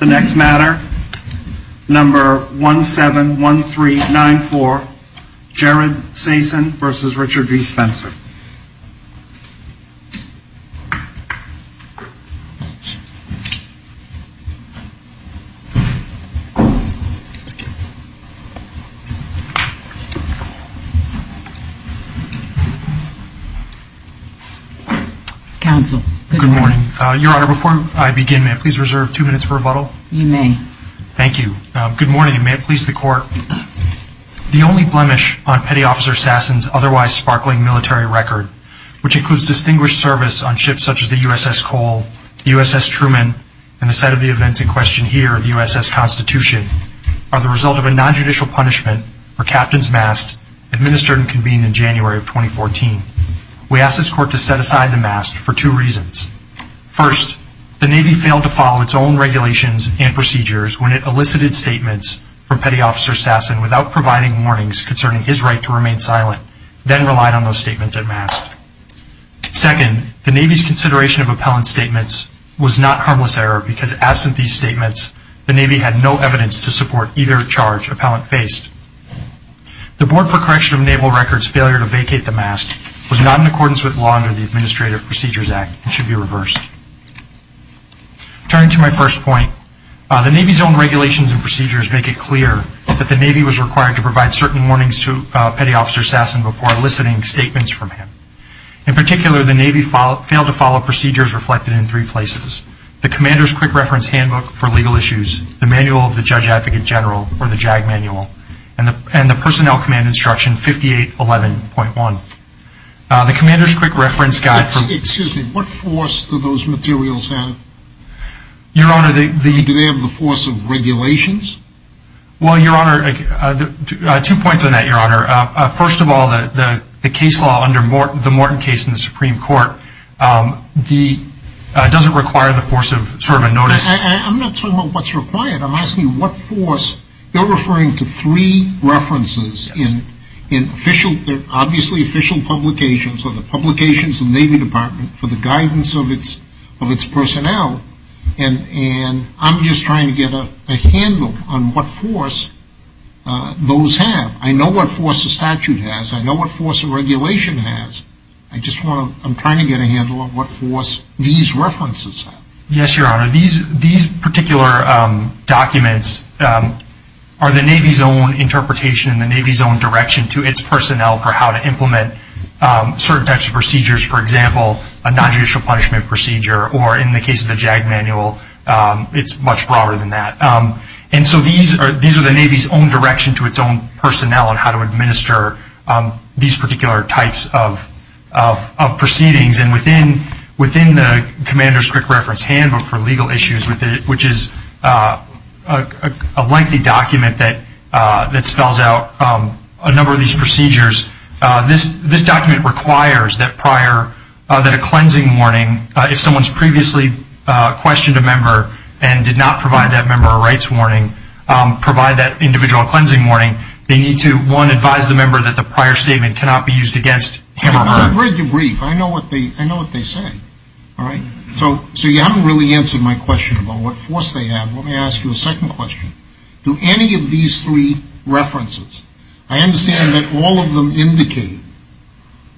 The next matter, number 171394, Jared Sasen v. Richard D. Spencer. Good morning. Your Honor, before I begin, may I please reserve two minutes for rebuttal? You may. Thank you. Good morning, and may it please the Court, the only blemish on petty officer Sasen's otherwise sparkling military record, which includes distinguished service on ships such as the USS Cole, the USS Truman, and the site of the events in question here, the USS Constitution, are the result of a non-judicial punishment for Captain's Mast administered and convened in January of 2014. We ask this Court to set aside the mast for two reasons. First, the Navy failed to follow its own regulations and procedures when it elicited statements from Petty Officer Sasen without providing warnings concerning his right to remain silent, then relied on those statements at mast. Second, the Navy's consideration of appellant statements was not harmless error because absent these statements, the Navy had no evidence to support either charge appellant faced. The Board for Correction of Naval Records' failure to vacate the mast was not in accordance with law under the Administrative Procedures Act and should be reversed. Turning to my first point, the Navy's own regulations and procedures make it clear that the Navy was required to provide certain warnings to Petty Officer Sasen before eliciting statements from him. In particular, the Navy failed to follow procedures reflected in three places, the Commander's Quick Reference Handbook for Legal Issues, the Manual of the Judge Advocate General or the JAG Manual, and the Personnel Command Instruction 5811.1. The Commander's Quick Reference Handbook for Legal Issues, the Manual of the Judge Advocate General, and the Personnel Command Instruction 5811.1. The Navy failed to follow procedures reflected in three places, the Navy failed to follow procedures reflected in three places, the Navy failed to follow procedures reflected in three places, the Navy failed to follow procedures reflected in three places, the Navy failed to follow procedures reflected in three places. Yes Your Honor, these particular documents are the Navy's own interpretation and the Navy's own direction to its personnel for how to implement certain types of procedures, for example, a non-judicial punishment procedure or in the case of the JAG manual, it's much broader than that. And so these are the Navy's own direction to its own personnel on how to administer these particular types of proceedings and within the Commander's Quick Reference Handbook for Legal Issues, which is a lengthy document that spells out a number of these procedures, this document requires that prior, that a cleansing warning, if someone's previously questioned a member and did not provide that member a rights warning, provide that individual a cleansing warning, they need to, one, advise the member that the prior statement cannot be used against him or her. I've read the brief, I know what they say, all right? So you haven't really answered my question about what force they have, let me ask you a second question. Do any of these three references, I understand that all of them indicate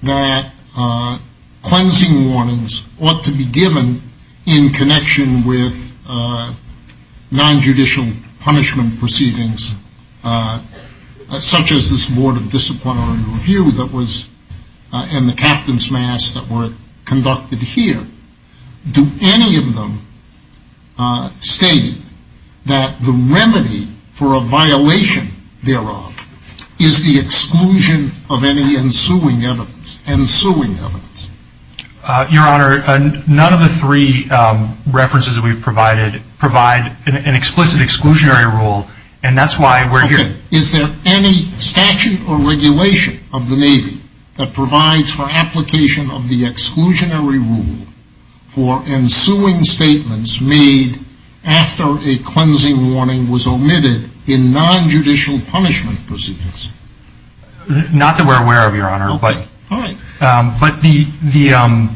that cleansing warnings ought to be given in connection with non-judicial punishment proceedings, such as this Board of Disciplinary Review that was, and the Captain's Mass that were conducted here, do any of them state that the remedy for a violation thereof is the exclusion of any ensuing evidence, ensuing evidence? Your Honor, none of the three references that we've provided provide an explicit exclusionary rule and that's why we're here. Okay, is there any statute or regulation of the Navy that provides for application of the exclusionary rule for ensuing statements made after a cleansing warning was omitted in non-judicial punishment proceedings? Not that we're aware of, Your Honor, but, but the, the, um...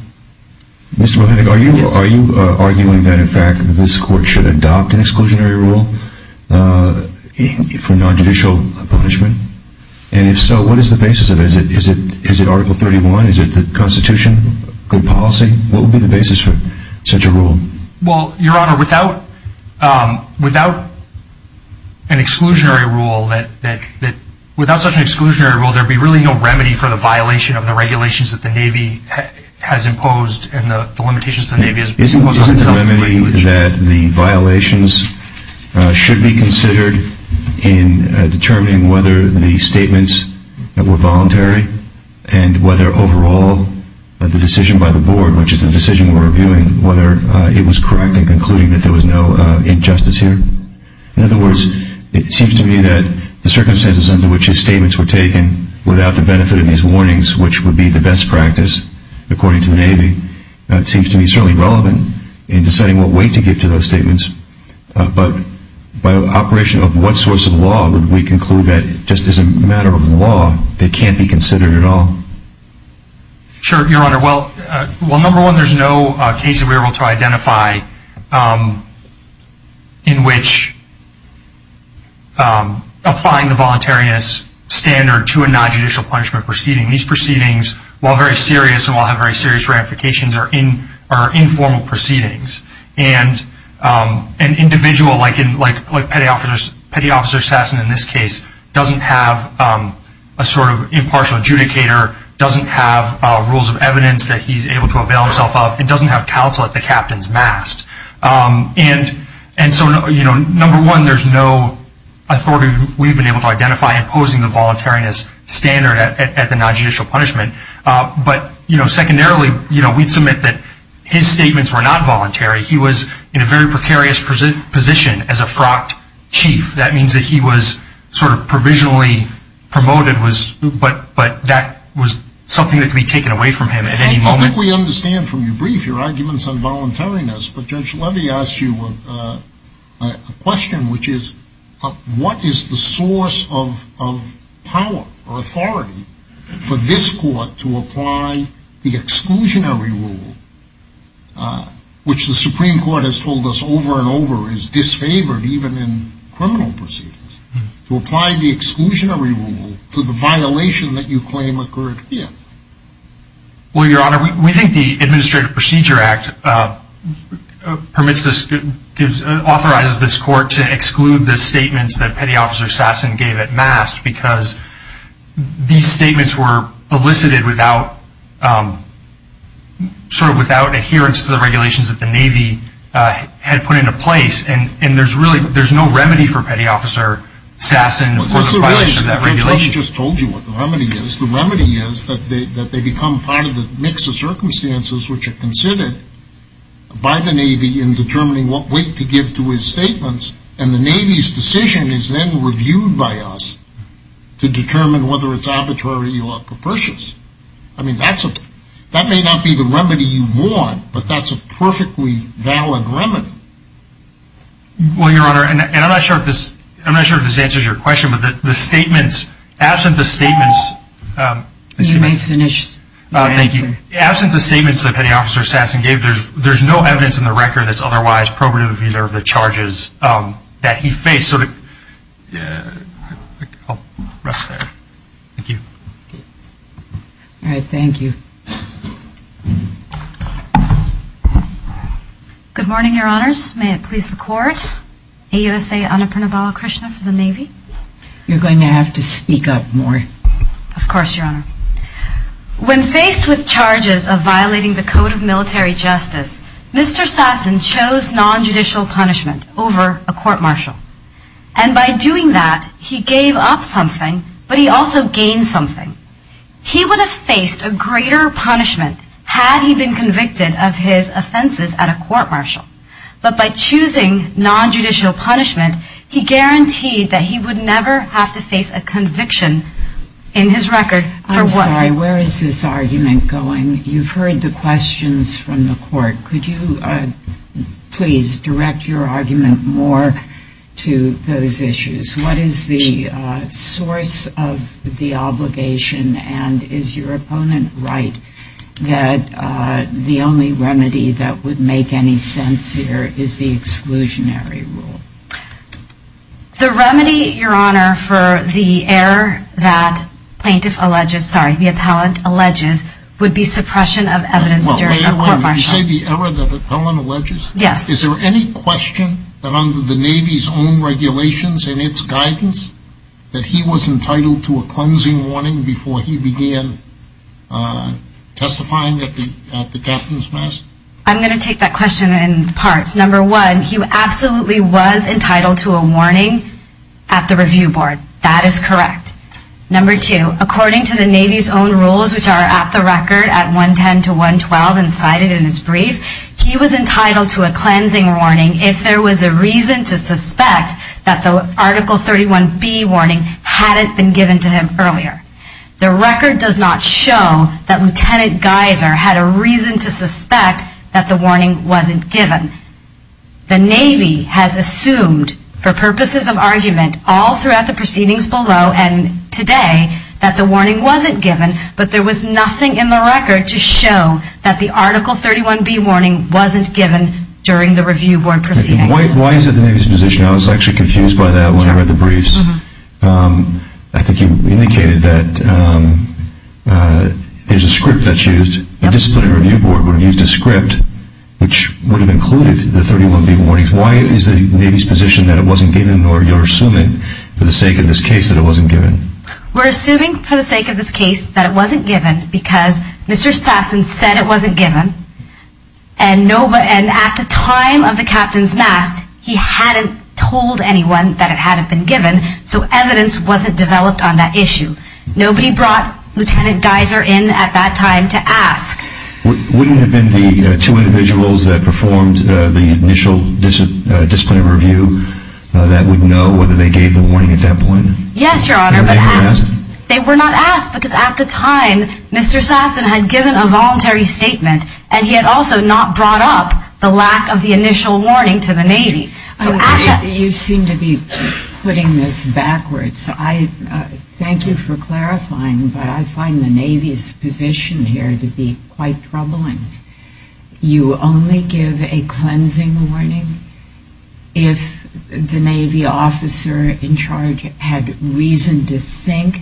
Mr. Bohenig, are you arguing that in fact this Court should adopt an exclusionary rule for non-judicial punishment? And if so, what is the basis of it? Is it, is it Article 31? Is it the Constitution? Good policy? What would be the basis for such a rule? Well, Your Honor, without, um, without an exclusionary rule that, that, that, without such an exclusionary rule, there'd be really no remedy for the violation of the regulations that the Navy has imposed and the, the limitations that the Navy has imposed on itself. Isn't, isn't the remedy that the violations should be considered in determining whether the statements were voluntary and whether overall the decision by the Board, which is the decision we're reviewing, whether it was correct in concluding that there was no injustice here? In other words, it seems to me that the circumstances under which his statements were taken, without the benefit of his warnings, which would be the best practice, according to the Navy, seems to be certainly relevant in deciding what weight to give to those statements. But by operation of what source of law would we conclude that just as a matter of law, they can't be considered at all? Sure, Your Honor. Well, well, number one, there's no case that we were able to identify, in which applying the voluntariness standard to a non-judicial punishment proceeding. These proceedings, while very serious and while have very serious ramifications, are in, are in, an individual like, like, like Petty Officer Sassen in this case doesn't have a sort of impartial adjudicator, doesn't have rules of evidence that he's able to avail himself of, and doesn't have counsel at the captain's mast. And, and so, you know, number one, there's no authority we've been able to identify imposing the voluntariness standard at the non-judicial punishment. But, you know, secondarily, you know, we'd submit that his statements were not voluntary. He was in a very precarious position as a frocked chief. That means that he was sort of provisionally promoted was, but, but that was something that could be taken away from him at any moment. I think we understand from your brief your arguments on voluntariness, but Judge Levy asked you a question, which is, what is the source of, of power or authority for this court to apply the exclusionary rule, which the Supreme Court has told us over and over is disfavored even in criminal proceedings, to apply the exclusionary rule to the violation that you claim occurred here? Well, Your Honor, we think the Administrative Procedure Act permits this, authorizes this court to exclude the statements that Petty Officer Sassen gave at mast, because these were stated without, sort of without adherence to the regulations that the Navy had put into place. And, and there's really, there's no remedy for Petty Officer Sassen for the violation of that regulation. Judge Levy just told you what the remedy is. The remedy is that they, that they become part of the mix of circumstances which are considered by the Navy in determining what weight to give to his statements. And the Navy's decision is then reviewed by us to determine whether or not that's a valid remedy. I mean, that's a, that may not be the remedy you want, but that's a perfectly valid remedy. Well, Your Honor, and, and I'm not sure if this, I'm not sure if this answers your question, but the, the statements, absent the statements, um, excuse me. You may finish your answer. Thank you. Absent the statements that Petty Officer Sassen gave, there's, there's no evidence in the record that's otherwise probative of either of the charges, um, that he faced. So to, uh, I'll rest there. Thank you. All right. Thank you. Good morning, Your Honors. May it please the Court, AUSA Annapurnabala Krishna for the Navy. You're going to have to speak up more. Of course, Your Honor. When faced with charges of violating the Code of Military Justice, Mr. Sassen chose nonjudicial punishment over a court-martial. And by doing that, he gave up something, but he also gained something. He would have faced a greater punishment had he been convicted of his offenses at a court-martial. But by choosing nonjudicial punishment, he guaranteed that he would never have to face a conviction in his record for what he did. I'm sorry. Where is this argument going? You've heard the questions from the Court. Could you, uh, please direct your argument more to those issues? What is the, uh, source of the obligation, and is your opponent right that, uh, the only remedy that would make any sense here is the exclusionary rule? The remedy, Your Honor, for the error that plaintiff alleges, sorry, the appellant alleges, would be suppression of evidence during a court-martial. You say the error that the appellant alleges? Yes. Is there any question that under the Navy's own regulations and its guidance, that he was entitled to a cleansing warning before he began, uh, testifying at the Captain's Mass? I'm going to take that question in parts. Number one, he absolutely was entitled to a warning at the review board. That is correct. Number two, according to the Navy's own rules, which are at the record at 110 to 112 and cited in his brief, he was entitled to a cleansing warning if there was a reason to suspect that the Article 31B warning hadn't been given to him earlier. The record does not show that Lieutenant Geiser had a reason to suspect that the warning wasn't given. The Navy has assumed for purposes of argument all throughout the proceedings below and today that the warning wasn't given, but there was nothing in the record to show that the Article 31B warning wasn't given during the review board proceedings. Why is it the Navy's position, I was actually confused by that when I read the briefs, um, I think you indicated that, um, uh, there's a script that's used, a disciplinary review board would have used a script which would have included the 31B warning. Why is the We're assuming for the sake of this case that it wasn't given because Mr. Sasson said it wasn't given and nobody, and at the time of the captain's mask, he hadn't told anyone that it hadn't been given, so evidence wasn't developed on that issue. Nobody brought Lieutenant Geiser in at that time to ask. Wouldn't it have been the two individuals that performed the initial disciplinary review that would know whether they gave the warning at that point? Yes, Your Honor, but they were not asked because at the time Mr. Sasson had given a voluntary statement and he had also not brought up the lack of the initial warning to the Navy. So you seem to be putting this backwards. I, uh, thank you for clarifying, but I find the Navy's position here to be quite troubling. You only give a cleansing warning if the Navy officer in charge had reason to think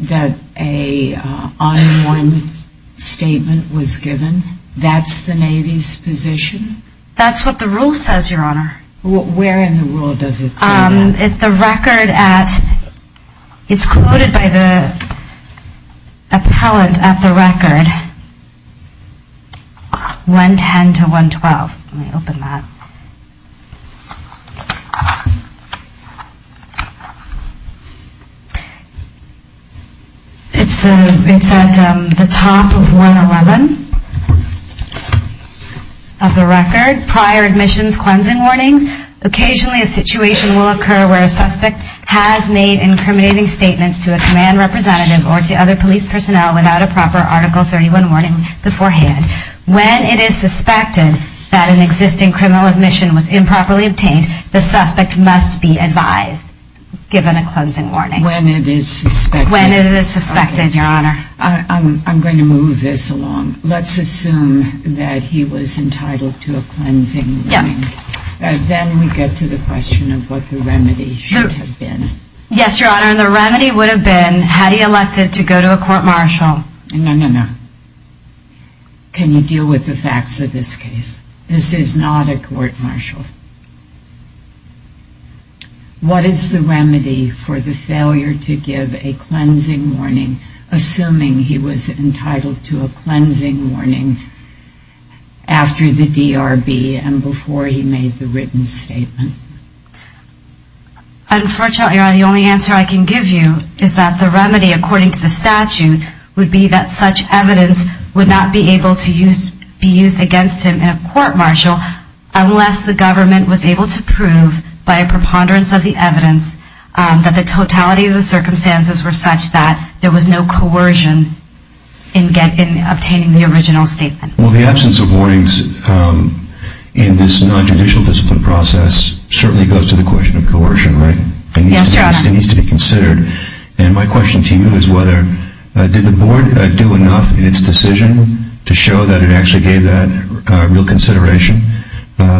that an on-and-on statement was given. That's the Navy's position? That's what the rule says, Your Honor. Where in the rule does it say that? It's quoted by the appellant at the record, 110 to 112. Let me open that. It's at the top of 111 of the record, prior admissions cleansing warnings. Occasionally a situation will occur where a suspect has made incriminating statements to a command representative or to other police personnel without a proper Article 31 warning beforehand. When it is suspected that an existing criminal admission was improperly obtained, the suspect must be advised, given a cleansing warning. When it is suspected? When it is suspected, Your Honor. I'm going to move this along. Let's assume that he was entitled to a cleansing warning. Yes. Then we get to the question of what the remedy should have been. Yes, Your Honor. The remedy would have been had he elected to go to a court martial. No, no, no. Can you deal with the facts of this case? This is not a court martial. What is the remedy for the failure to give a cleansing warning, assuming he was entitled to a cleansing warning, and that he made the written statement? Unfortunately, Your Honor, the only answer I can give you is that the remedy, according to the statute, would be that such evidence would not be able to be used against him in a court martial unless the government was able to prove, by a preponderance of the evidence, that the totality of the circumstances were such that there was no coercion in obtaining the original statement. Well, the absence of warnings in this non-judicial discipline process certainly goes to the question of coercion, right? Yes, Your Honor. It needs to be considered. And my question to you is whether, did the Board do enough in its decision to show that it actually gave that real consideration?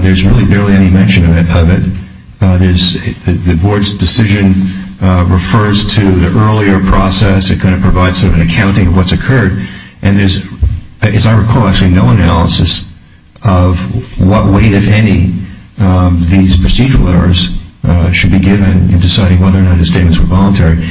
There's really barely any mention of it. The Board's decision refers to the earlier process. It kind of provides sort of an accounting of what's occurred. And there's, as I recall, actually no analysis of what weight, if any, these procedural errors should be given in deciding whether or not the statements were voluntary.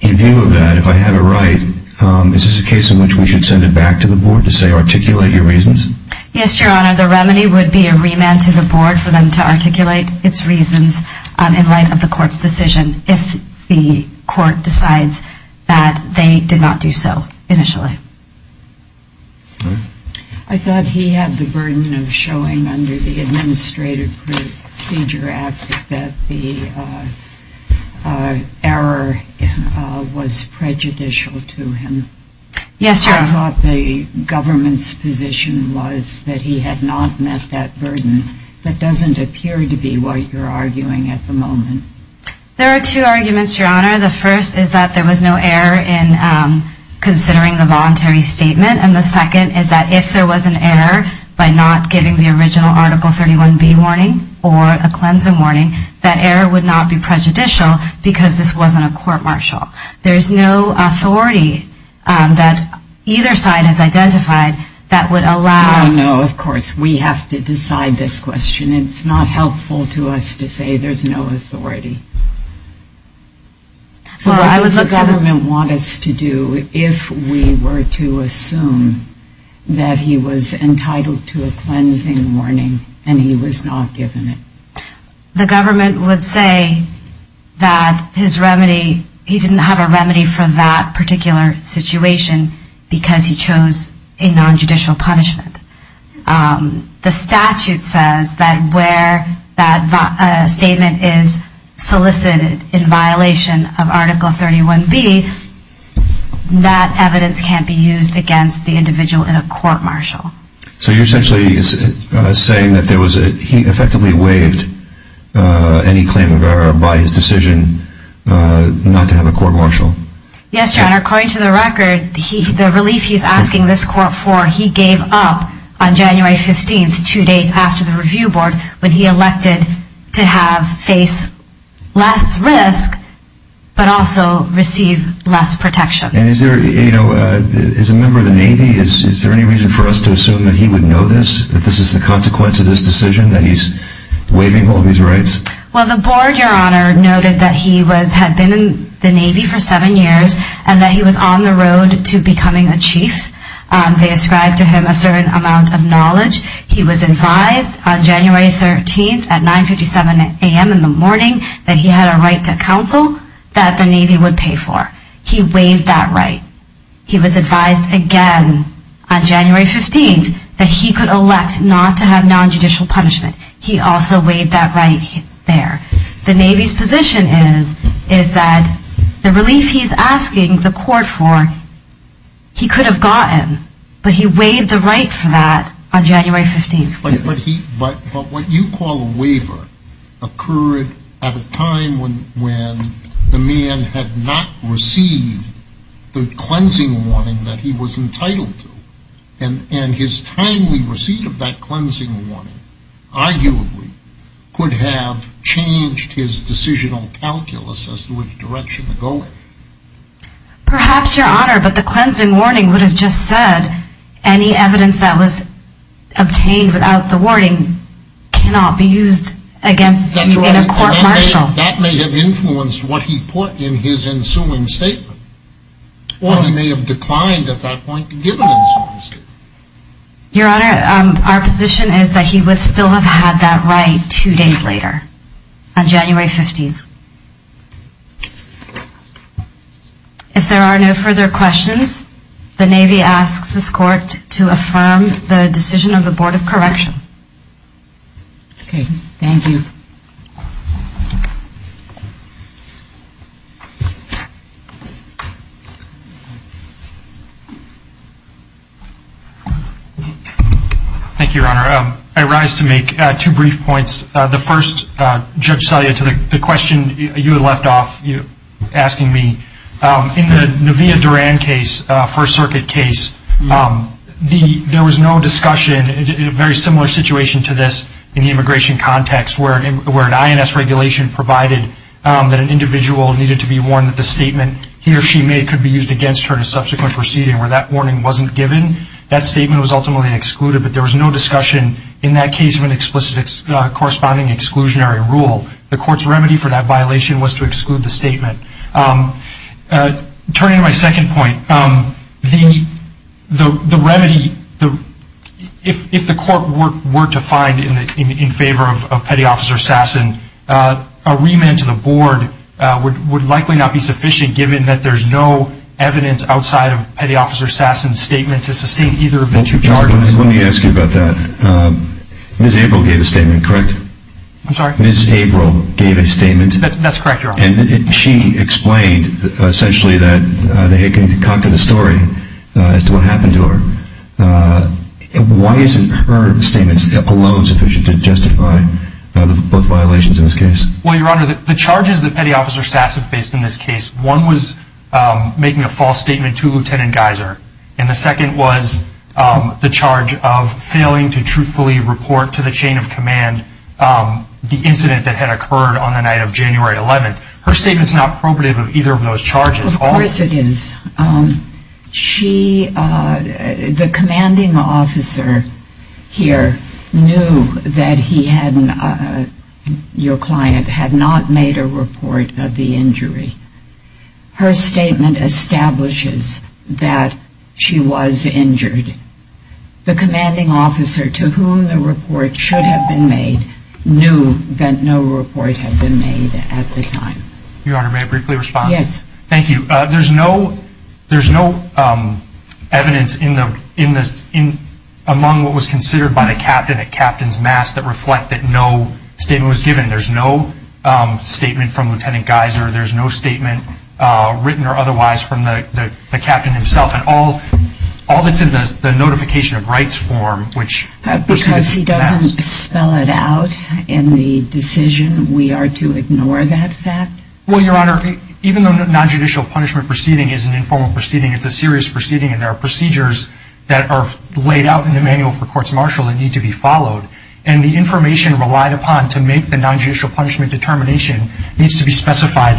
In view of that, if I have it right, is this a case in which we should send it back to the Board to say, articulate your reasons? Yes, Your Honor. The remedy would be a remand to the Board for them to articulate its reasons in light of the Court's decision if the Court decides that they did not do so initially. I thought he had the burden of showing under the Administrative Procedure Act that the error was prejudicial to him. Yes, Your Honor. I thought the government's position was that he had not met that burden. That doesn't appear to be what you're arguing at the moment. There are two arguments, Your Honor. The first is that there was no error in considering the voluntary statement. And the second is that if there was an error by not giving the original Article 31B warning or a cleansing warning, that error would not be prejudicial because this wasn't a court-martial. There's no authority that either side has identified that would allow us No, of course. We have to decide this question. It's not helpful to us to say there's no authority. Well, I would look to the So what does the government want us to do if we were to assume that he was entitled to a cleansing warning and he was not given it? The government would say that his remedy, he didn't have a remedy for that particular situation because he chose a non-judicial punishment. The statute says that where that statement is solicited in violation of Article 31B, that evidence can't be used against the individual in a court-martial. So you're essentially saying that he effectively waived any claim of error by his decision not to have a court-martial? Yes, Your Honor. According to the record, the relief he's asking this court for, he gave up on January 15th, two days after the review board, when he elected to have, face less risk, but also receive less protection. And is there, you know, as a member of the Navy, is there any reason for us to assume that he would know this, that this is the consequence of this decision, that he's waiving all these rights? Well, the board, Your Honor, noted that he had been in the Navy for seven years and that he was on the road to becoming a chief. They ascribed to him a certain amount of knowledge. He was advised on January 13th at 9.57 a.m. in the morning that he had a right to counsel that the Navy would pay for. He waived that right. He was advised again on January 15th that he could elect not to have non-judicial punishment. He also waived that right there. The Navy's position is that the relief he's asking the court for, he could have gotten, but he waived the right for that on January 15th. But what you call a waiver occurred at a time when the man had not received the cleansing warning that he was entitled to. And his timely receipt of that cleansing warning, arguably, could have changed his decisional calculus as to which direction to go in. Perhaps, Your Honor, but the cleansing warning would have just said any evidence that was obtained without the warning cannot be used against him in a court-martial. That may have influenced what he put in his ensuing statement. Or he may have declined at that point to give an ensuing statement. Your Honor, our position is that he would still have had that right two days later, on January 15th. If there are no further questions, the Navy asks this court to affirm the decision of the Board of Correction. Okay. Thank you. Thank you, Your Honor. I rise to make two brief points. The first, Judge Salia, to the question you left off asking me. In the Navia Duran case, First Circuit case, there was no discussion, in a very similar situation to this in the immigration context, where an INS regulation provided that an individual needed to be warned that the statement he or she made could be used against her in a subsequent proceeding. Where that warning wasn't given, that statement was ultimately excluded. But there was no discussion in that case of an explicit corresponding exclusionary rule. The court's remedy for that violation was to exclude the statement. Turning to my second point, the remedy, if the court were to find in favor of Petty Officer Sasson, a remand to the Board would likely not be sufficient, given that there's no evidence outside of Petty Officer Sasson's statement to sustain either of those charges. Let me ask you about that. Ms. April gave a statement, correct? I'm sorry? Ms. April gave a statement. That's correct, Your Honor. And she explained, essentially, that they had come to the story as to what happened to her. Why isn't her statement alone sufficient to justify both violations in this case? Well, Your Honor, the charges that Petty Officer Sasson faced in this case, one was making a false statement to Lieutenant Geiser, and the second was the charge of failing to truthfully report to the chain of command the incident that had occurred on the night of January 11th. Her statement's not appropriate of either of those charges. Of course it is. The commanding officer here knew that your client had not made a report of the injury. Her statement establishes that she was injured. The commanding officer to whom the report should have been made knew that no report had been made at the time. Your Honor, may I briefly respond? Yes. Thank you. There's no evidence among what was considered by the captain at Captain's Mass that reflect that no statement was given. There's no statement from Lieutenant Geiser. There's no statement, written or otherwise, from the captain himself. All that's in the Notification of Rights form, which proceeds from that. Because he doesn't spell it out in the decision, we are to ignore that fact? Well, Your Honor, even though nonjudicial punishment proceeding is an informal proceeding, it's a serious proceeding, and there are procedures that are laid out in the Manual for Courts Martial that need to be followed. And the information relied upon to make the nonjudicial punishment determination needs to be specified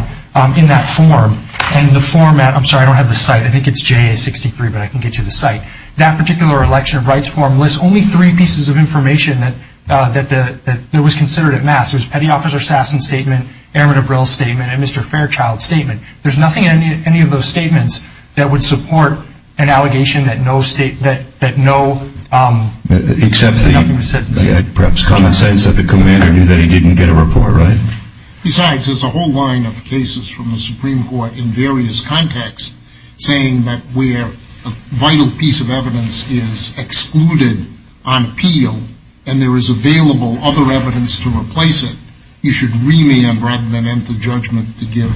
in that form. And the format, I'm sorry, I don't have the site. I think it's JA-63, but I can get you the site. That particular Election of Rights form lists only three pieces of information that was considered at Mass. There was Petty Officer Sasson's statement, Airman Abril's statement, and Mr. Fairchild's statement. There's nothing in any of those statements that would support an allegation that no statement, that nothing was said. Except perhaps common sense that the commander knew that he didn't get a report, right? Besides, there's a whole line of cases from the Supreme Court in various contexts saying that where a vital piece of evidence is excluded on appeal and there is available other evidence to replace it, you should remand rather than enter judgment to give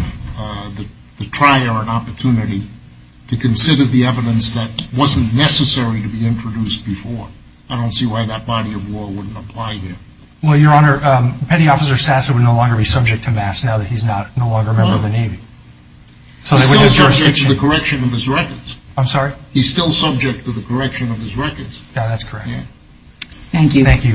the trier an opportunity to consider the evidence that wasn't necessary to be introduced before. I don't see why that body of law wouldn't apply here. Well, Your Honor, Petty Officer Sasson would no longer be subject to Mass now that he's no longer a member of the Navy. He's still subject to the correction of his records. I'm sorry? He's still subject to the correction of his records. Yeah, that's correct. Thank you. Thank you, Your Honor.